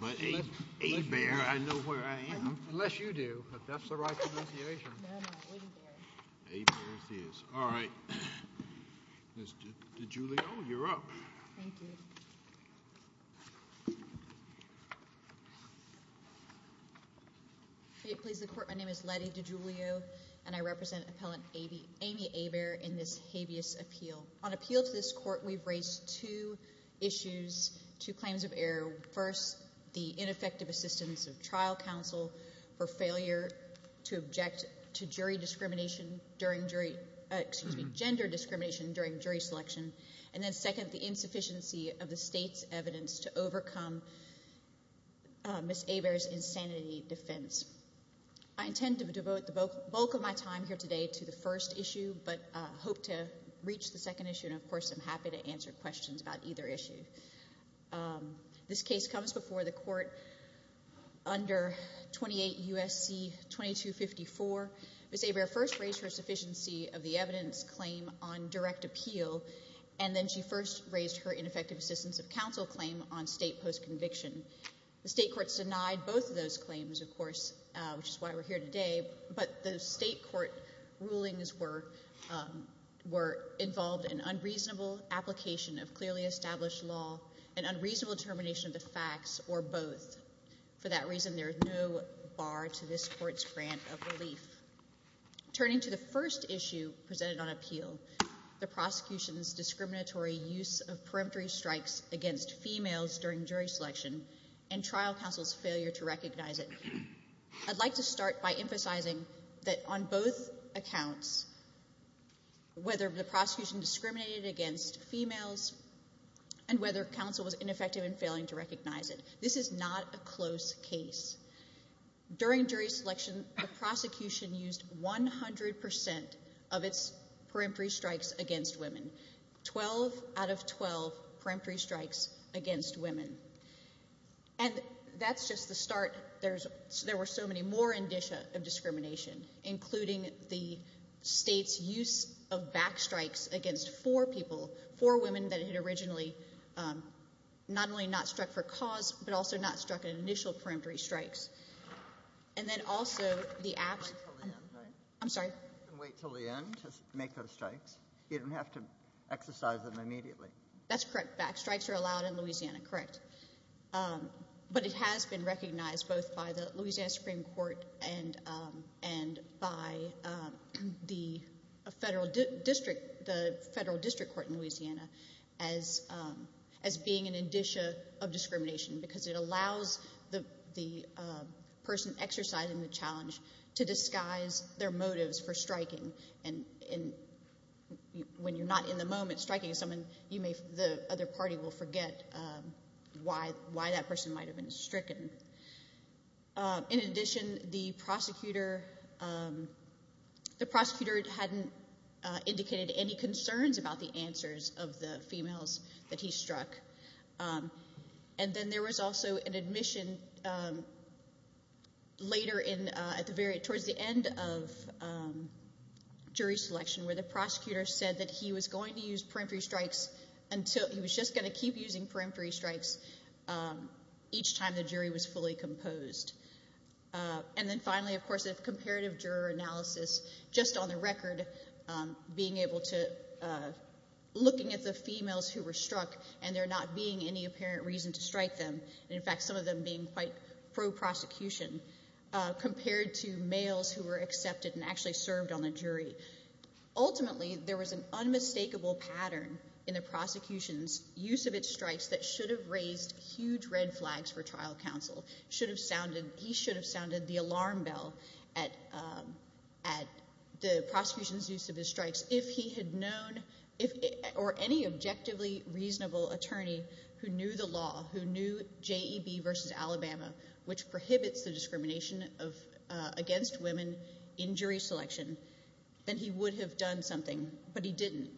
Lettie DiGiulio v. Amy Hebert, Appeal Order, first, the ineffective assistance of trial counsel for failure to object to gender discrimination during jury selection, and then second, the insufficiency of the state's evidence to overcome Ms. Hebert's insanity defense. I intend to devote the bulk of my time here today to the first issue, but hope to reach the second issue, and of course, I'm happy to answer questions about either issue. This case comes before the court under 28 U.S.C. 2254. Ms. Hebert first raised her sufficiency of the evidence claim on direct appeal, and then she first raised her ineffective assistance of counsel claim on state post-conviction. The state courts denied both of those claims, of course, which is why we're here today, but the state court rulings were involved in an unreasonable application of clearly established law, an unreasonable determination of the facts, or both. For that reason, there is no bar to this court's grant of relief. Turning to the first issue presented on appeal, the prosecution's discriminatory use of peremptory strikes against females during jury selection and trial counsel's failure to recognize it, I'd like to start by emphasizing that on both accounts, whether the counsel was ineffective in failing to recognize it, this is not a close case. During jury selection, the prosecution used 100% of its peremptory strikes against women, 12 out of 12 peremptory strikes against women, and that's just the start. There were so many more indicia of discrimination, including the state's use of backstrikes against four people, four women that had originally not only not struck for cause, but also not struck in initial peremptory strikes. And then also the— Wait until the end, right? I'm sorry? Wait until the end to make those strikes. You don't have to exercise them immediately. That's correct. Backstrikes are allowed in Louisiana, correct. But it has been recognized both by the Louisiana Supreme Court and by the federal district court in Louisiana as being an indicia of discrimination because it allows the person exercising the challenge to disguise their motives for striking. And when you're not in the moment striking someone, the other party will forget why that person might have been stricken. In addition, the prosecutor hadn't indicated any concerns about the answers of the females that he struck. And then there was also an admission later towards the end of jury selection where the prosecutor said that he was going to use peremptory strikes until—he was just going to keep using peremptory strikes each time the jury was fully composed. And then finally, of course, the comparative juror analysis, just on the record, being able to—looking at the females who were struck and there not being any apparent reason to strike them, and in fact some of them being quite pro-prosecution compared to males who were accepted and actually served on the jury. Ultimately, there was an unmistakable pattern in the prosecution's use of its strikes that should have raised huge red flags for trial counsel, should have sounded—he should have raised huge red flags for prosecution's use of his strikes. If he had known—or any objectively reasonable attorney who knew the law, who knew J.E.B. v. Alabama, which prohibits the discrimination against women in jury selection, then he would have done something, but he didn't.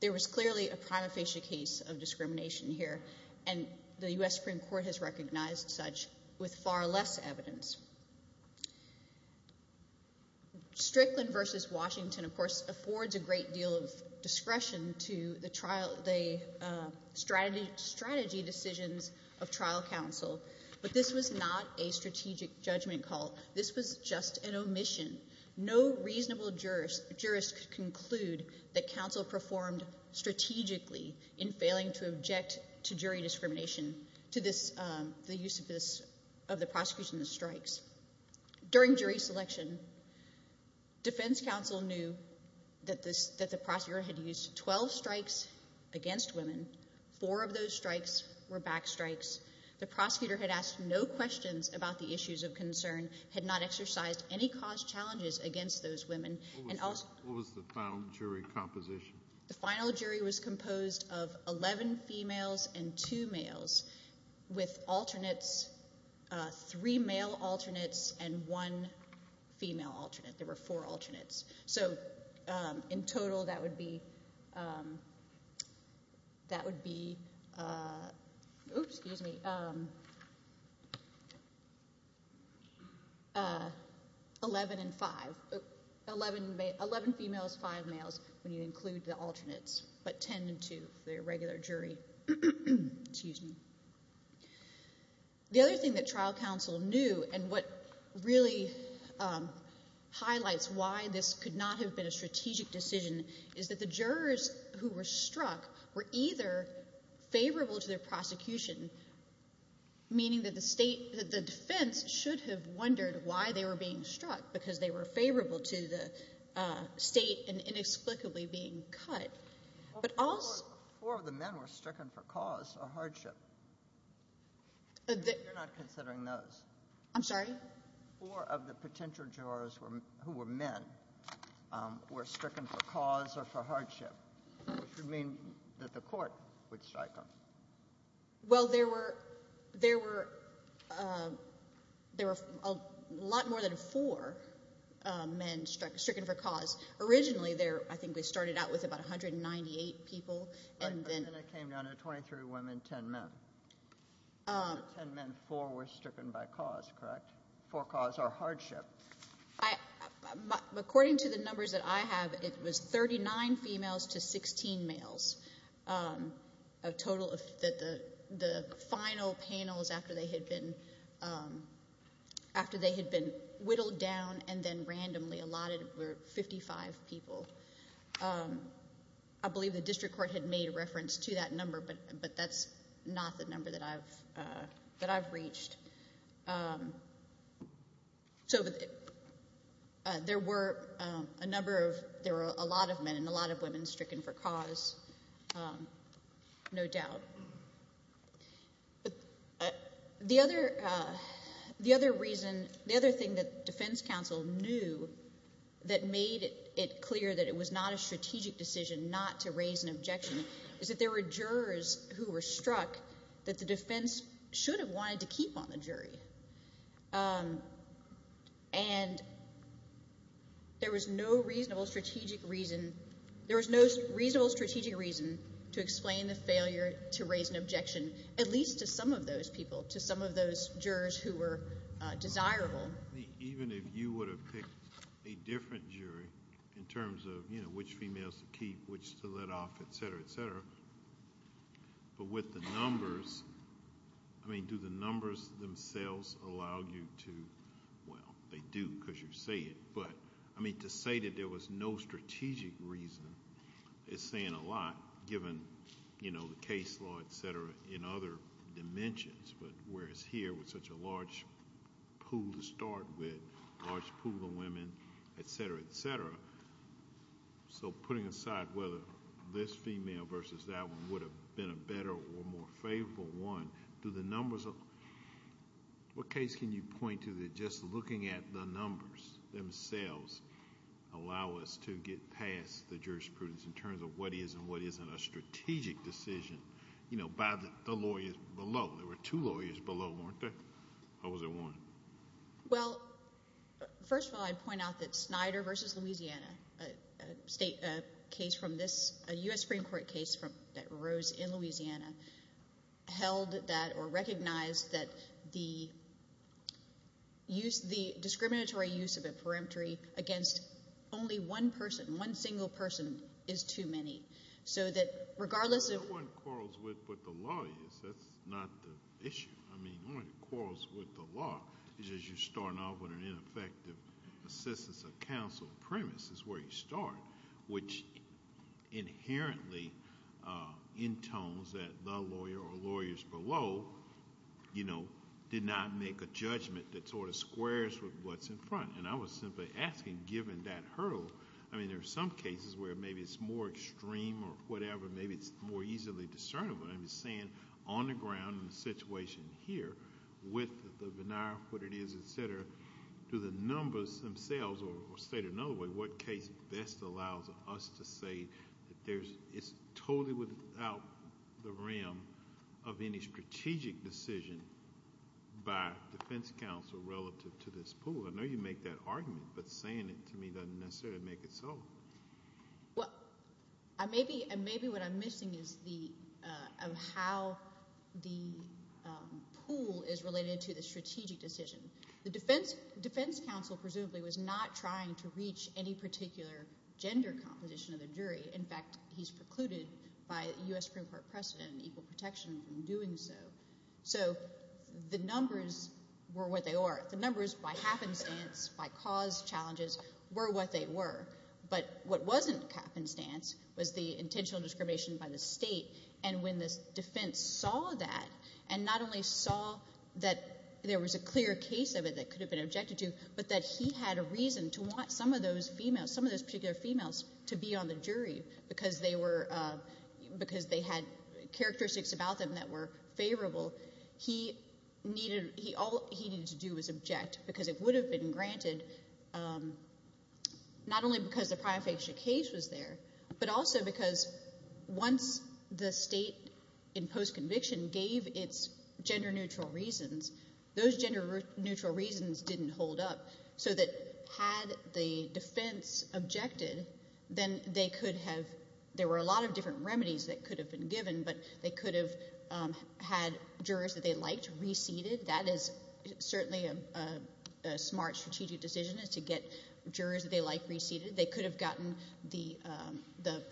There was clearly a prima facie case of discrimination here, and the U.S. Supreme Court has recognized such with far less evidence. Strickland v. Washington, of course, affords a great deal of discretion to the strategy decisions of trial counsel, but this was not a strategic judgment call. This was just an omission. No reasonable jurist could conclude that counsel performed strategically in failing to object to jury discrimination, to the use of the prosecution's strikes. During jury selection, defense counsel knew that the prosecutor had used 12 strikes against women. Four of those strikes were backstrikes. The prosecutor had asked no questions about the issues of concern, had not exercised any cause challenges against those women, and also— What was the final jury composition? The final jury was composed of 11 females and 2 males with alternates, 3 male alternates and 1 female alternate. There were 4 alternates. In total, that would be 11 females, 5 males when you include the alternates, but 10 and 2 for the regular jury. The other thing that trial counsel knew and what really highlights why this could not have been a strategic decision is that the jurors who were struck were either favorable to their prosecution, meaning that the defense should have wondered why they were being struck because they were favorable to the state and inexplicably being cut. Four of the men were stricken for cause or hardship. You're not considering those. I'm sorry? Four of the potential jurors who were men were stricken for cause or for hardship, which would mean that the court would strike them. Well, there were a lot more than four men stricken for cause. Originally, I think we started out with about 198 people. Then it came down to 23 women and 10 men. Out of the 10 men, 4 were stricken for cause or hardship. According to the numbers that I have, it was 39 females to 16 males. The final panels after they had been whittled down and then randomly allotted were 55 people. I believe the district court had made reference to that number, but that's not the number that I've reached. There were a lot of men and a lot of women stricken for cause, no doubt. The other thing that the defense counsel knew that made it clear that it was not a strategic decision not to raise an objection is that there were jurors who were struck that the jury. There was no reasonable strategic reason to explain the failure to raise an objection, at least to some of those people, to some of those jurors who were desirable. Even if you would have picked a different jury in terms of which females to keep, which Do the numbers themselves allow you to... Well, they do because you say it. To say that there was no strategic reason is saying a lot, given the case law, etc., in other dimensions. Whereas here, with such a large pool to start with, a large pool of women, etc., etc., so putting aside whether this female versus that one would have been a better or more favorable one, do the numbers... What case can you point to that just looking at the numbers themselves allow us to get past the jurisprudence in terms of what is and what isn't a strategic decision by the lawyers below? There were two lawyers below, weren't there? Or was there one? Well, first of all, I'd point out that Snyder versus Louisiana, a U.S. Supreme Court case that arose in Louisiana, held that or recognized that the discriminatory use of a peremptory against only one person, one single person, is too many. So that regardless of... No one quarrels with the lawyers. That's not the issue. I mean, one of the quarrels with the law is you're starting off with an ineffective assistance of counsel premise is where you start, which inherently intones that the lawyer or lawyers below did not make a judgment that sort of squares with what's in front. I was simply asking, given that hurdle... I mean, there are some cases where maybe it's more extreme or whatever. Maybe it's more easily discernible. I'm just saying, on the ground in the situation here, with the veneer of what it is, et cetera, do the numbers themselves, or stated another way, what case best allows us to say that it's totally without the rim of any strategic decision by defense counsel relative to this pool? I know you make that argument, but saying it to me doesn't necessarily make it so. Well, maybe what I'm missing is how the pool is related to the strategic decision. The defense counsel presumably was not trying to reach any particular gender composition of the jury. In fact, he's precluded by U.S. Supreme Court precedent and equal protection from doing so. So the numbers were what they were. The numbers, by happenstance, by cause, challenges, were what they were. But what wasn't happenstance was the intentional discrimination by the state. When the defense saw that, and not only saw that there was a clear case of it that could have been objected to, but that he had a reason to want some of those females, some of those particular females, to be on the jury because they had characteristics about them that were favorable, all he needed to do was object because it would have been granted not only because the prima facie case was there, but also because once the state in post-conviction gave its gender-neutral reasons, those gender-neutral reasons didn't hold up. So that had the defense objected, then they could have – there were a lot of different remedies that could have been given, but they could have had jurors that they liked reseated. That is certainly a smart strategic decision is to get jurors that they like reseated. They could have gotten the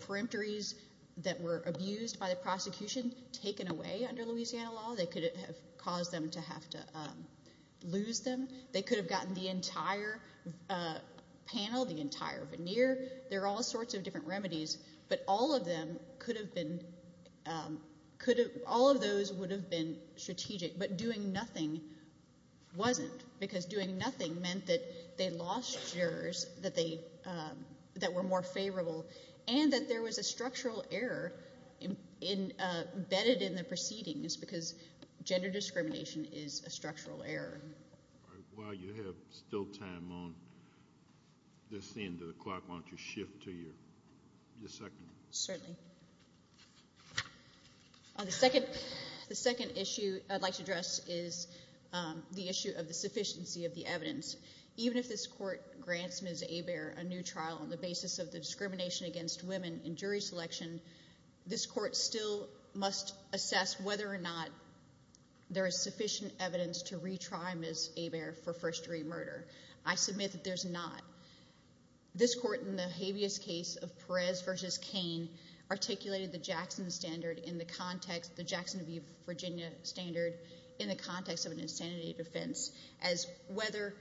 peremptories that were abused by the prosecution taken away under Louisiana law. They could have caused them to have to lose them. They could have gotten the entire panel, the entire veneer. There are all sorts of different remedies. But all of them could have been – all of those would have been strategic. But doing nothing wasn't because doing nothing meant that they lost jurors that were more favorable and that there was a structural error embedded in the proceedings because gender discrimination is a structural error. While you have still time on this end of the clock, why don't you shift to your second? Certainly. Thank you. The second issue I'd like to address is the issue of the sufficiency of the evidence. Even if this court grants Ms. Hebert a new trial on the basis of the discrimination against women in jury selection, this court still must assess whether or not there is sufficient evidence to retry Ms. Hebert for first-degree murder. I submit that there's not. This court in the habeas case of Perez v. Cain articulated the Jackson standard in the context – the Jackson v. Virginia standard in the context of an insanity defense as whether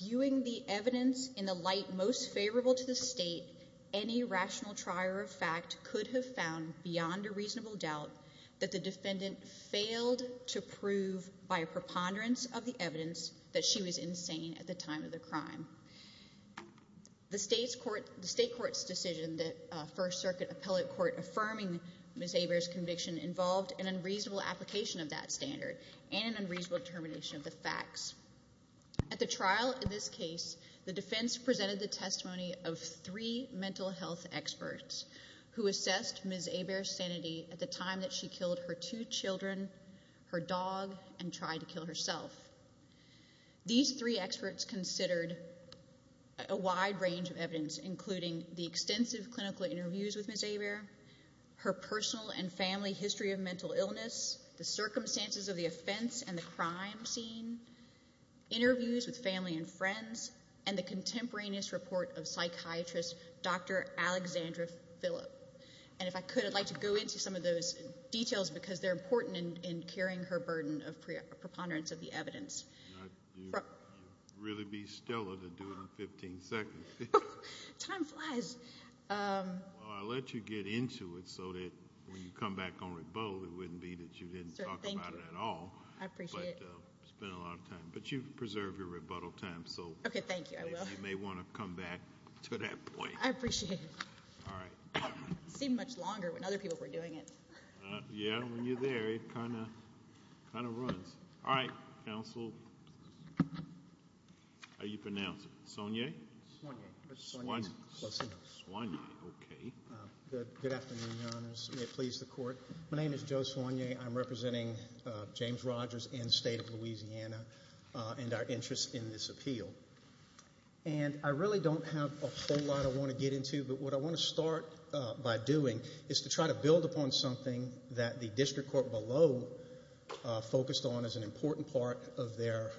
viewing the evidence in the light most favorable to the state, any rational trier of fact could have found beyond a reasonable doubt that the defendant failed to prove by a preponderance of the evidence that she was insane at the time of the crime. The state court's decision that a First Circuit appellate court affirming Ms. Hebert's conviction involved an unreasonable application of that standard and an unreasonable determination of the facts. At the trial in this case, the defense presented the testimony of three mental health experts who assessed Ms. Hebert's sanity at the time that she killed her two children, her dog, and tried to kill herself. These three experts considered a wide range of evidence, including the extensive clinical interviews with Ms. Hebert, her personal and family history of mental illness, the circumstances of the offense and the crime scene, interviews with family and friends, and the contemporaneous report of psychiatrist Dr. Alexandra Phillip. And if I could, I'd like to go into some of those details because they're important in carrying her burden of preponderance of the evidence. You'd really be stellar to do it in 15 seconds. Time flies. Well, I'll let you get into it so that when you come back on rebuttal, it wouldn't be that you didn't talk about it at all. I appreciate it. But you've preserved your rebuttal time. Okay, thank you. You may want to come back to that point. I appreciate it. All right. It seemed much longer when other people were doing it. Yeah, when you're there, it kind of runs. All right, counsel. How do you pronounce it? Sogne? Sogne. Sogne. Okay. Good afternoon, Your Honors. May it please the Court. I'm representing James Rogers and State of Louisiana and our interest in this appeal. And I really don't have a whole lot I want to get into, but what I want to start by doing is to try to build upon something that the district court below focused on as an important part of their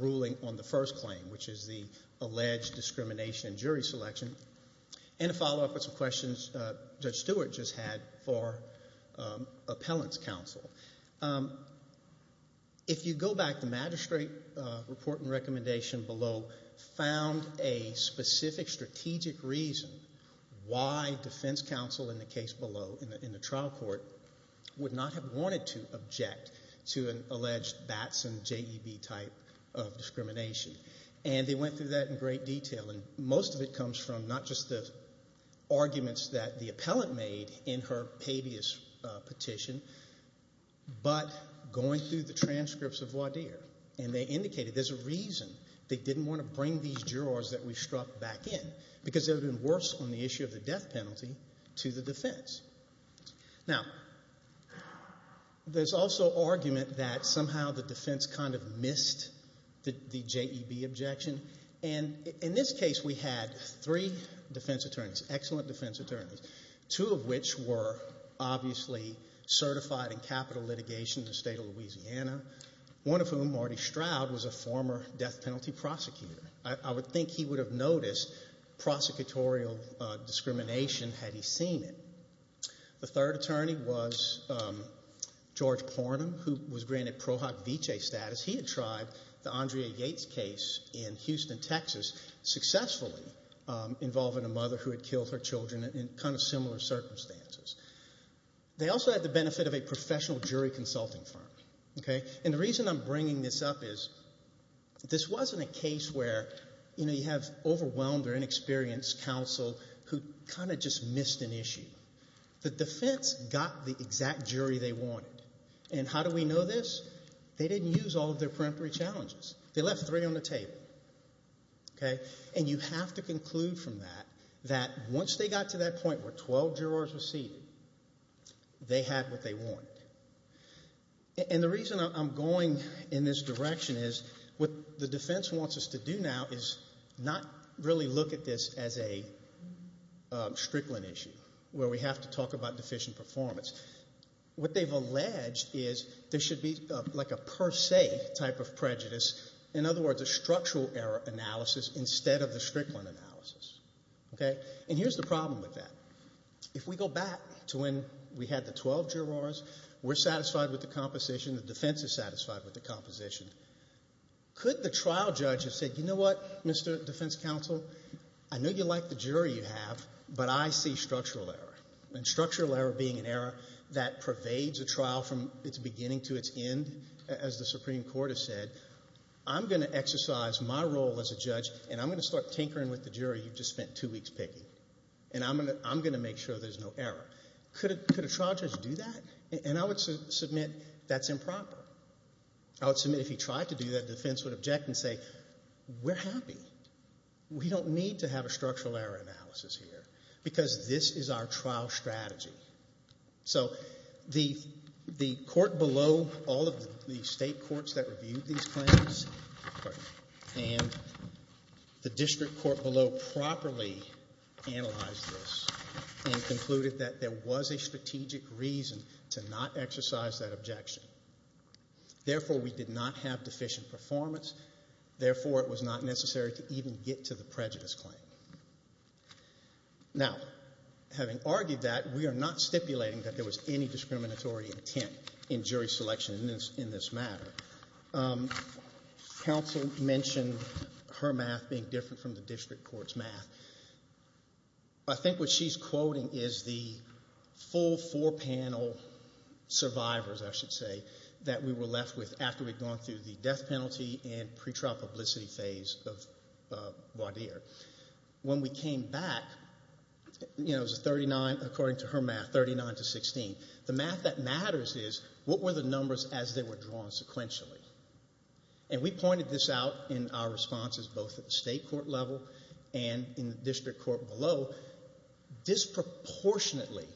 ruling on the first claim, which is the alleged discrimination in jury selection, and to follow up with some questions Judge Stewart just had for appellant's counsel. If you go back, the magistrate report and recommendation below found a specific strategic reason why defense counsel in the case below, in the trial court, would not have wanted to object to an alleged Batson-JEB type of discrimination. And they went through that in great detail. And most of it comes from not just the arguments that the appellant made in her pevious petition, but going through the transcripts of Laudier. And they indicated there's a reason they didn't want to bring these jurors that we struck back in, because it would have been worse on the issue of the death penalty to the defense. Now, there's also argument that somehow the defense kind of missed the JEB objection. And in this case, we had three defense attorneys, excellent defense attorneys, two of which were obviously certified in capital litigation in the state of Louisiana, one of whom, Marty Stroud, was a former death penalty prosecutor. I would think he would have noticed prosecutorial discrimination had he seen it. The third attorney was George Pornam, who was granted Prohoc Vitae status. He had tried the Andrea Yates case in Houston, Texas, successfully involving a jury in kind of similar circumstances. They also had the benefit of a professional jury consulting firm. And the reason I'm bringing this up is this wasn't a case where you have overwhelmed or inexperienced counsel who kind of just missed an issue. The defense got the exact jury they wanted. And how do we know this? They didn't use all of their peremptory challenges. They left three on the table. And you have to conclude from that that once they got to that point where 12 jurors were seated, they had what they wanted. And the reason I'm going in this direction is what the defense wants us to do now is not really look at this as a Strickland issue where we have to talk about deficient performance. What they've alleged is there should be like a per se type of prejudice. In other words, a structural error analysis instead of the Strickland analysis. And here's the problem with that. If we go back to when we had the 12 jurors, we're satisfied with the composition, the defense is satisfied with the composition. Could the trial judge have said, you know what, Mr. Defense Counsel, I know you like the jury you have, but I see structural error. And structural error being an error that pervades a trial from its beginning to its end, as the Supreme Court has said, I'm going to exercise my role as a judge and I'm going to start tinkering with the jury you've just spent two weeks picking. And I'm going to make sure there's no error. Could a trial judge do that? And I would submit that's improper. I would submit if he tried to do that, the defense would object and say, we're happy. We don't need to have a structural error analysis here because this is our trial strategy. So the court below all of the state courts that reviewed these claims and the district court below properly analyzed this and concluded that there was a strategic reason to not exercise that objection. Therefore, we did not have deficient performance. Therefore, it was not necessary to even get to the prejudice claim. Now, having argued that, we are not stipulating that there was any discriminatory intent in jury selection in this matter. Counsel mentioned her math being different from the district court's math. I think what she's quoting is the full four-panel survivors, I should say, that we were left with after we'd gone through the death penalty and pre-trial publicity phase of Baudire. When we came back, it was a 39 according to her math, 39 to 16. The math that matters is what were the numbers as they were drawn sequentially? And we pointed this out in our responses both at the state court level and in the district court below. Disproportionately,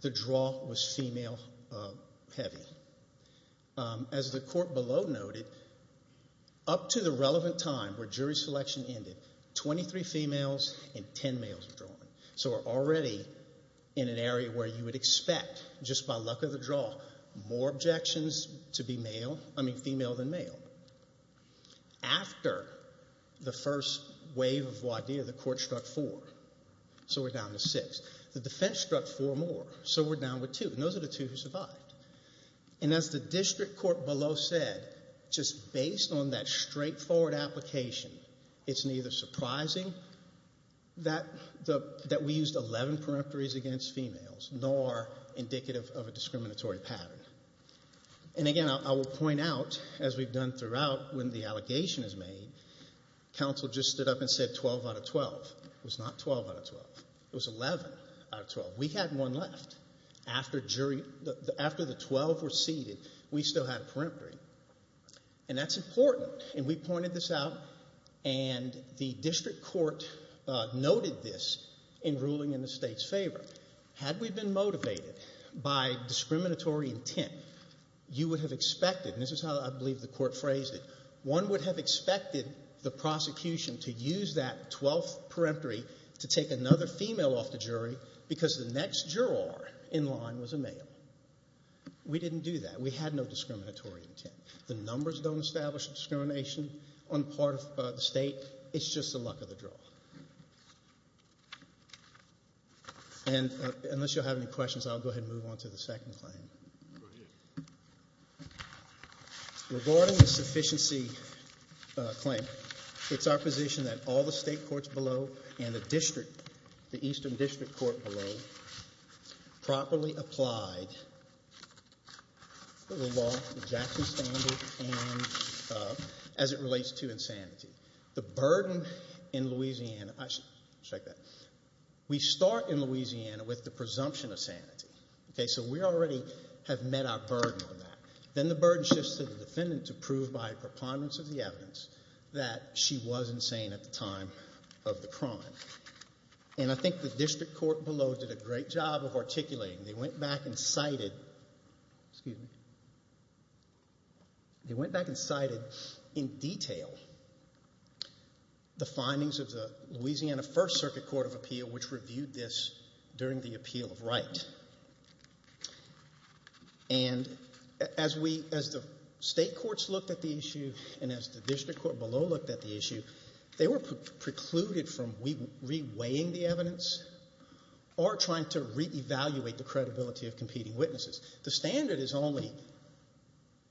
the draw was female-heavy. As the court below noted, up to the relevant time where jury selection ended, 23 females and 10 males were drawn. So we're already in an area where you would expect, just by luck of the draw, more objections to be female than male. After the first wave of Baudire, the court struck four, so we're down to six. The defense struck four more, so we're down to two. And those are the two who survived. And as the district court below said, just based on that straightforward application, it's neither surprising that we used 11 peremptories against females, nor indicative of a discriminatory pattern. And again, I will point out, as we've done throughout when the allegation is made, counsel just stood up and said 12 out of 12. It was not 12 out of 12. It was 11 out of 12. We had one left. After the 12 were seated, we still had a peremptory. And that's important. And we pointed this out, and the district court noted this in ruling in the state's favor. Had we been motivated by discriminatory intent, you would have expected, and this is how I believe the court phrased it, one would have expected the prosecution to use that 12th peremptory to take another female off the jury because the next juror in line was a male. We didn't do that. We had no discriminatory intent. The numbers don't establish discrimination on the part of the state. It's just the luck of the draw. And unless you'll have any questions, I'll go ahead and move on to the second claim. Regarding the sufficiency claim, it's our position that all the state courts below and the district, the eastern district court below, properly applied the law, the Jackson standard, as it relates to insanity. The burden in Louisiana, we start in Louisiana with the presumption of sanity. So we already have met our burden on that. Then the burden shifts to the defendant to prove by preponderance of the crime. And I think the district court below did a great job of articulating. They went back and cited in detail the findings of the Louisiana First Circuit Court of Appeal, which reviewed this during the appeal of right. And as the state courts looked at the issue and as the district court below looked at the issue, they were precluded from reweighing the evidence or trying to reevaluate the credibility of competing witnesses. The standard is only,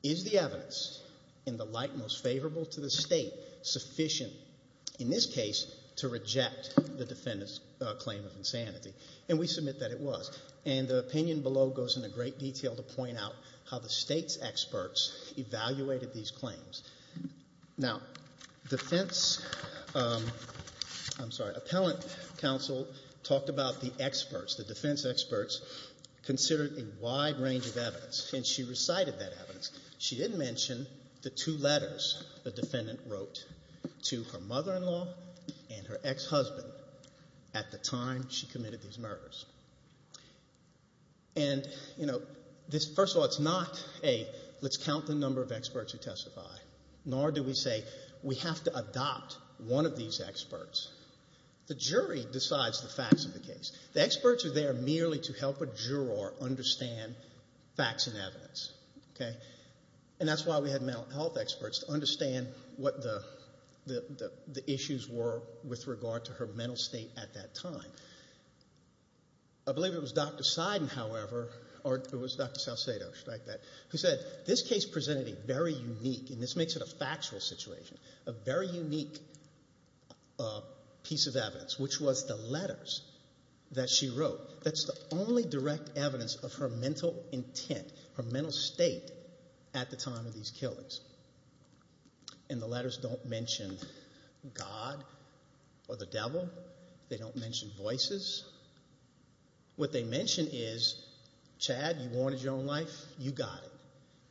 is the evidence in the light most favorable to the state sufficient, in this case, to reject the defendant's claim of insanity? And we submit that it was. And the opinion below goes into great detail to point out how the state's experts evaluated these claims. Now, defense, I'm sorry, appellant counsel talked about the experts, the defense experts, considered a wide range of evidence. And she recited that evidence. She didn't mention the two letters the defendant wrote to her mother-in-law and her ex-husband at the time she committed these murders. And, you know, first of all, it's not a let's count the number of experts who testify, nor do we say we have to adopt one of these experts. The jury decides the facts of the case. The experts are there merely to help a juror understand facts and evidence, okay? And that's why we had mental health experts to understand what the issues were with regard to her mental state at that time. I believe it was Dr. Seiden, however, or it was Dr. Salcedo, should I add that, who said this case presented a very unique, and this makes it a factual situation, a very unique piece of evidence, which was the letters that she wrote. That's the only direct evidence of her mental intent, her mental state at the time of these killings. And the letters don't mention God or the devil. They don't mention voices. What they mention is, Chad, you wanted your own life, you got it,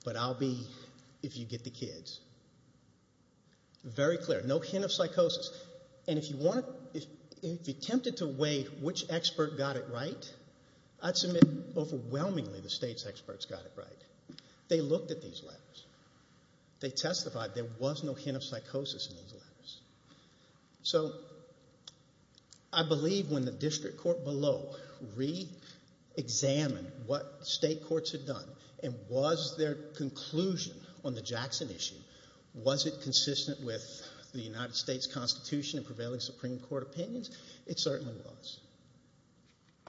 but I'll be if you get the kids. Very clear. No hint of psychosis. And if you want to, if you're tempted to weigh which expert got it right, I'd submit overwhelmingly the state's experts got it right. They looked at these letters. They testified there was no hint of psychosis in these letters. So I believe when the district court below reexamined what state courts had done and was their conclusion on the Jackson issue, was it consistent with the United States Constitution and prevailing Supreme Court opinions? It certainly was.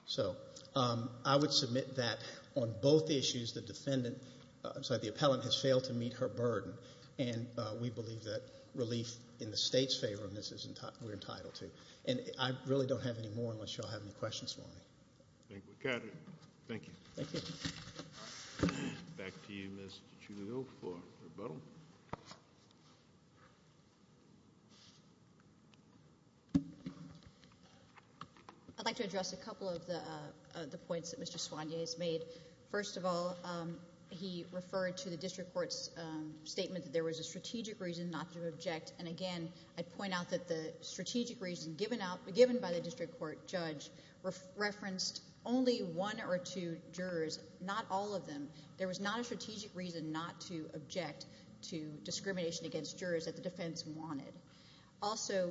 So I would submit that on both issues the defendant, I'm sorry, the appellant, has failed to meet her burden, and we believe that relief in the state's favor, and this is what we're entitled to. And I really don't have any more unless you all have any questions for me. Thank you. Thank you. Thank you. Back to you, Ms. DeGioia, for rebuttal. I'd like to address a couple of the points that Mr. Soinier has made. First of all, he referred to the district court's statement that there was a strategic reason not to object, and, again, I'd point out that the strategic reason given by the district court judge referenced only one or two jurors, not all of them. There was not a strategic reason not to object to discrimination against jurors that the defense wanted. Also,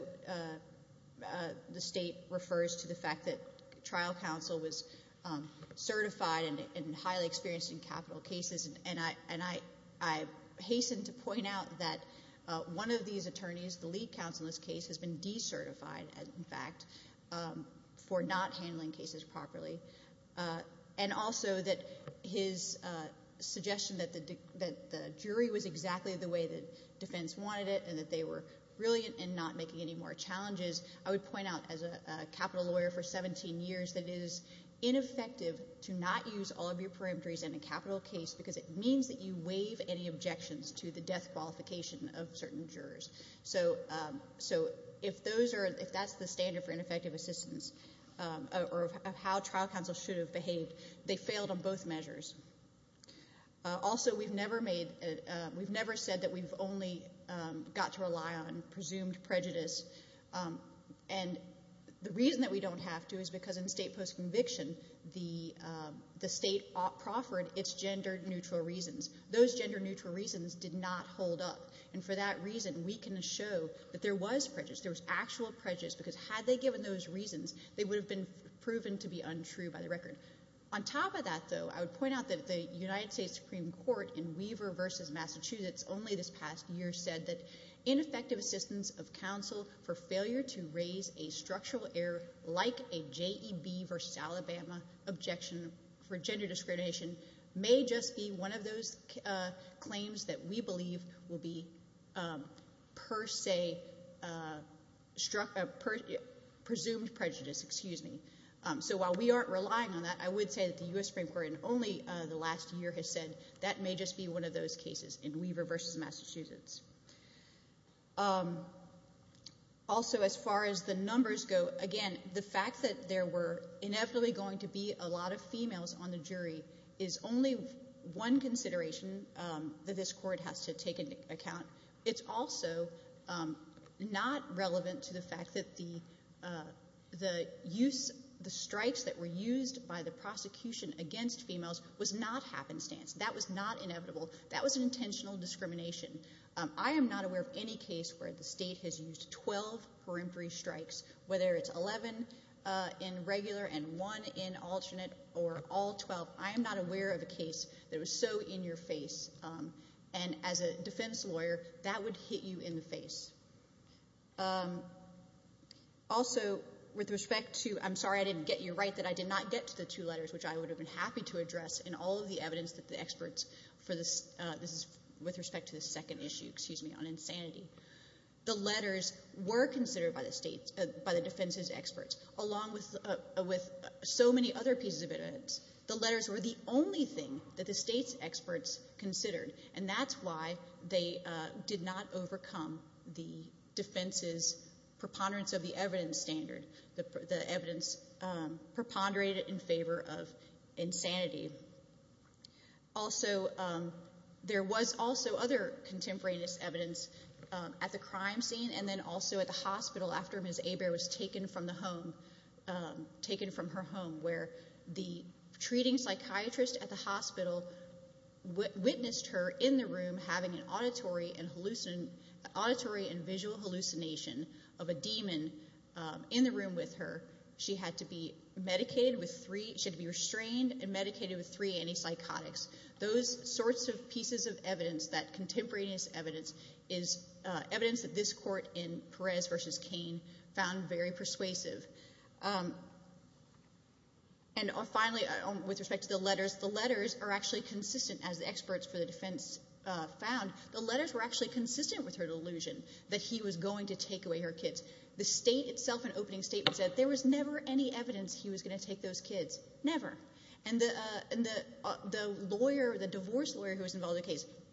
the state refers to the fact that trial counsel was certified and highly experienced in capital cases, and I hasten to point out that one of these attorneys, the lead counsel in this case, has been decertified, in fact, for not handling cases properly, and also that his suggestion that the jury was exactly the way the defense wanted it and that they were brilliant in not making any more challenges. I would point out, as a capital lawyer for 17 years, that it is ineffective to not use all of your perimetries in a capital case because it means that you waive any objections to the death qualification of certain jurors. So if that's the standard for ineffective assistance or how trial counsel should have behaved, they failed on both measures. Also, we've never said that we've only got to rely on presumed prejudice, and the reason that we don't have to is because in the state post-conviction, the state proffered its gender-neutral reasons. Those gender-neutral reasons did not hold up, and for that reason, we can show that there was prejudice. There was actual prejudice because had they given those reasons, they would have been proven to be untrue by the record. On top of that, though, I would point out that the United States Supreme Court in Weaver v. Massachusetts only this past year said that ineffective assistance of counsel for failure to raise a structural error like a JEB v. Alabama objection for gender discrimination may just be one of those claims that we believe will be per se presumed prejudice. So while we aren't relying on that, I would say that the U.S. Supreme Court in only the last year has said that may just be one of those cases in Weaver v. Massachusetts. Also, as far as the numbers go, again, the fact that there were inevitably going to be a lot of females on the jury is only one consideration that this Court has to take into account. It's also not relevant to the fact that the strikes that were used by the prosecution against females was not happenstance. That was not inevitable. That was an intentional discrimination. I am not aware of any case where the state has used 12 peremptory strikes, whether it's 11 in regular and one in alternate or all 12. I am not aware of a case that was so in-your-face. And as a defense lawyer, that would hit you in the face. Also, with respect to—I'm sorry I didn't get you right that I did not get to the two letters, which I would have been happy to address in all of the evidence that the experts— this is with respect to the second issue, excuse me, on insanity. The letters were considered by the defense's experts, along with so many other pieces of evidence. The letters were the only thing that the state's experts considered, and that's why they did not overcome the defense's preponderance of the evidence standard, the evidence preponderated in favor of insanity. Also, there was also other contemporaneous evidence at the crime scene and then also at the hospital after Ms. Hebert was taken from the home, taken from her home, where the treating psychiatrist at the hospital witnessed her in the room having an auditory and visual hallucination of a demon in the room with her. She had to be medicated with three—she had to be restrained and medicated with three antipsychotics. Those sorts of pieces of evidence, that contemporaneous evidence, is evidence that this court in Perez v. Cain found very persuasive. And finally, with respect to the letters, the letters are actually consistent. As the experts for the defense found, the letters were actually consistent with her delusion that he was going to take away her kids. The state itself in opening statement said there was never any evidence he was going to take those kids. Never.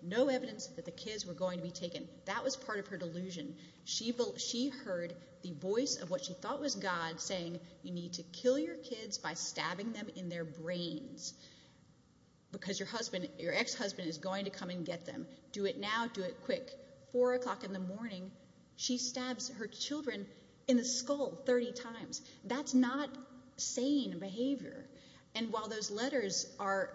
No evidence that the kids were going to be taken. That was part of her delusion. She heard the voice of what she thought was God saying, you need to kill your kids by stabbing them in their brains because your ex-husband is going to come and get them. Do it now. Do it quick. Four o'clock in the morning, she stabs her children in the skull 30 times. That's not sane behavior. And while those letters are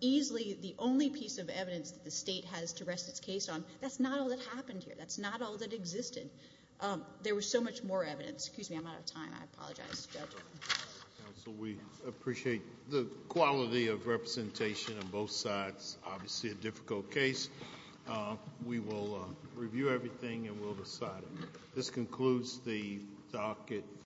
easily the only piece of evidence that the state has to rest its case on, that's not all that happened here. That's not all that existed. There was so much more evidence. Excuse me, I'm out of time. I apologize. Counsel, we appreciate the quality of representation on both sides. Obviously a difficult case. We will review everything and we'll decide. This concludes the talk.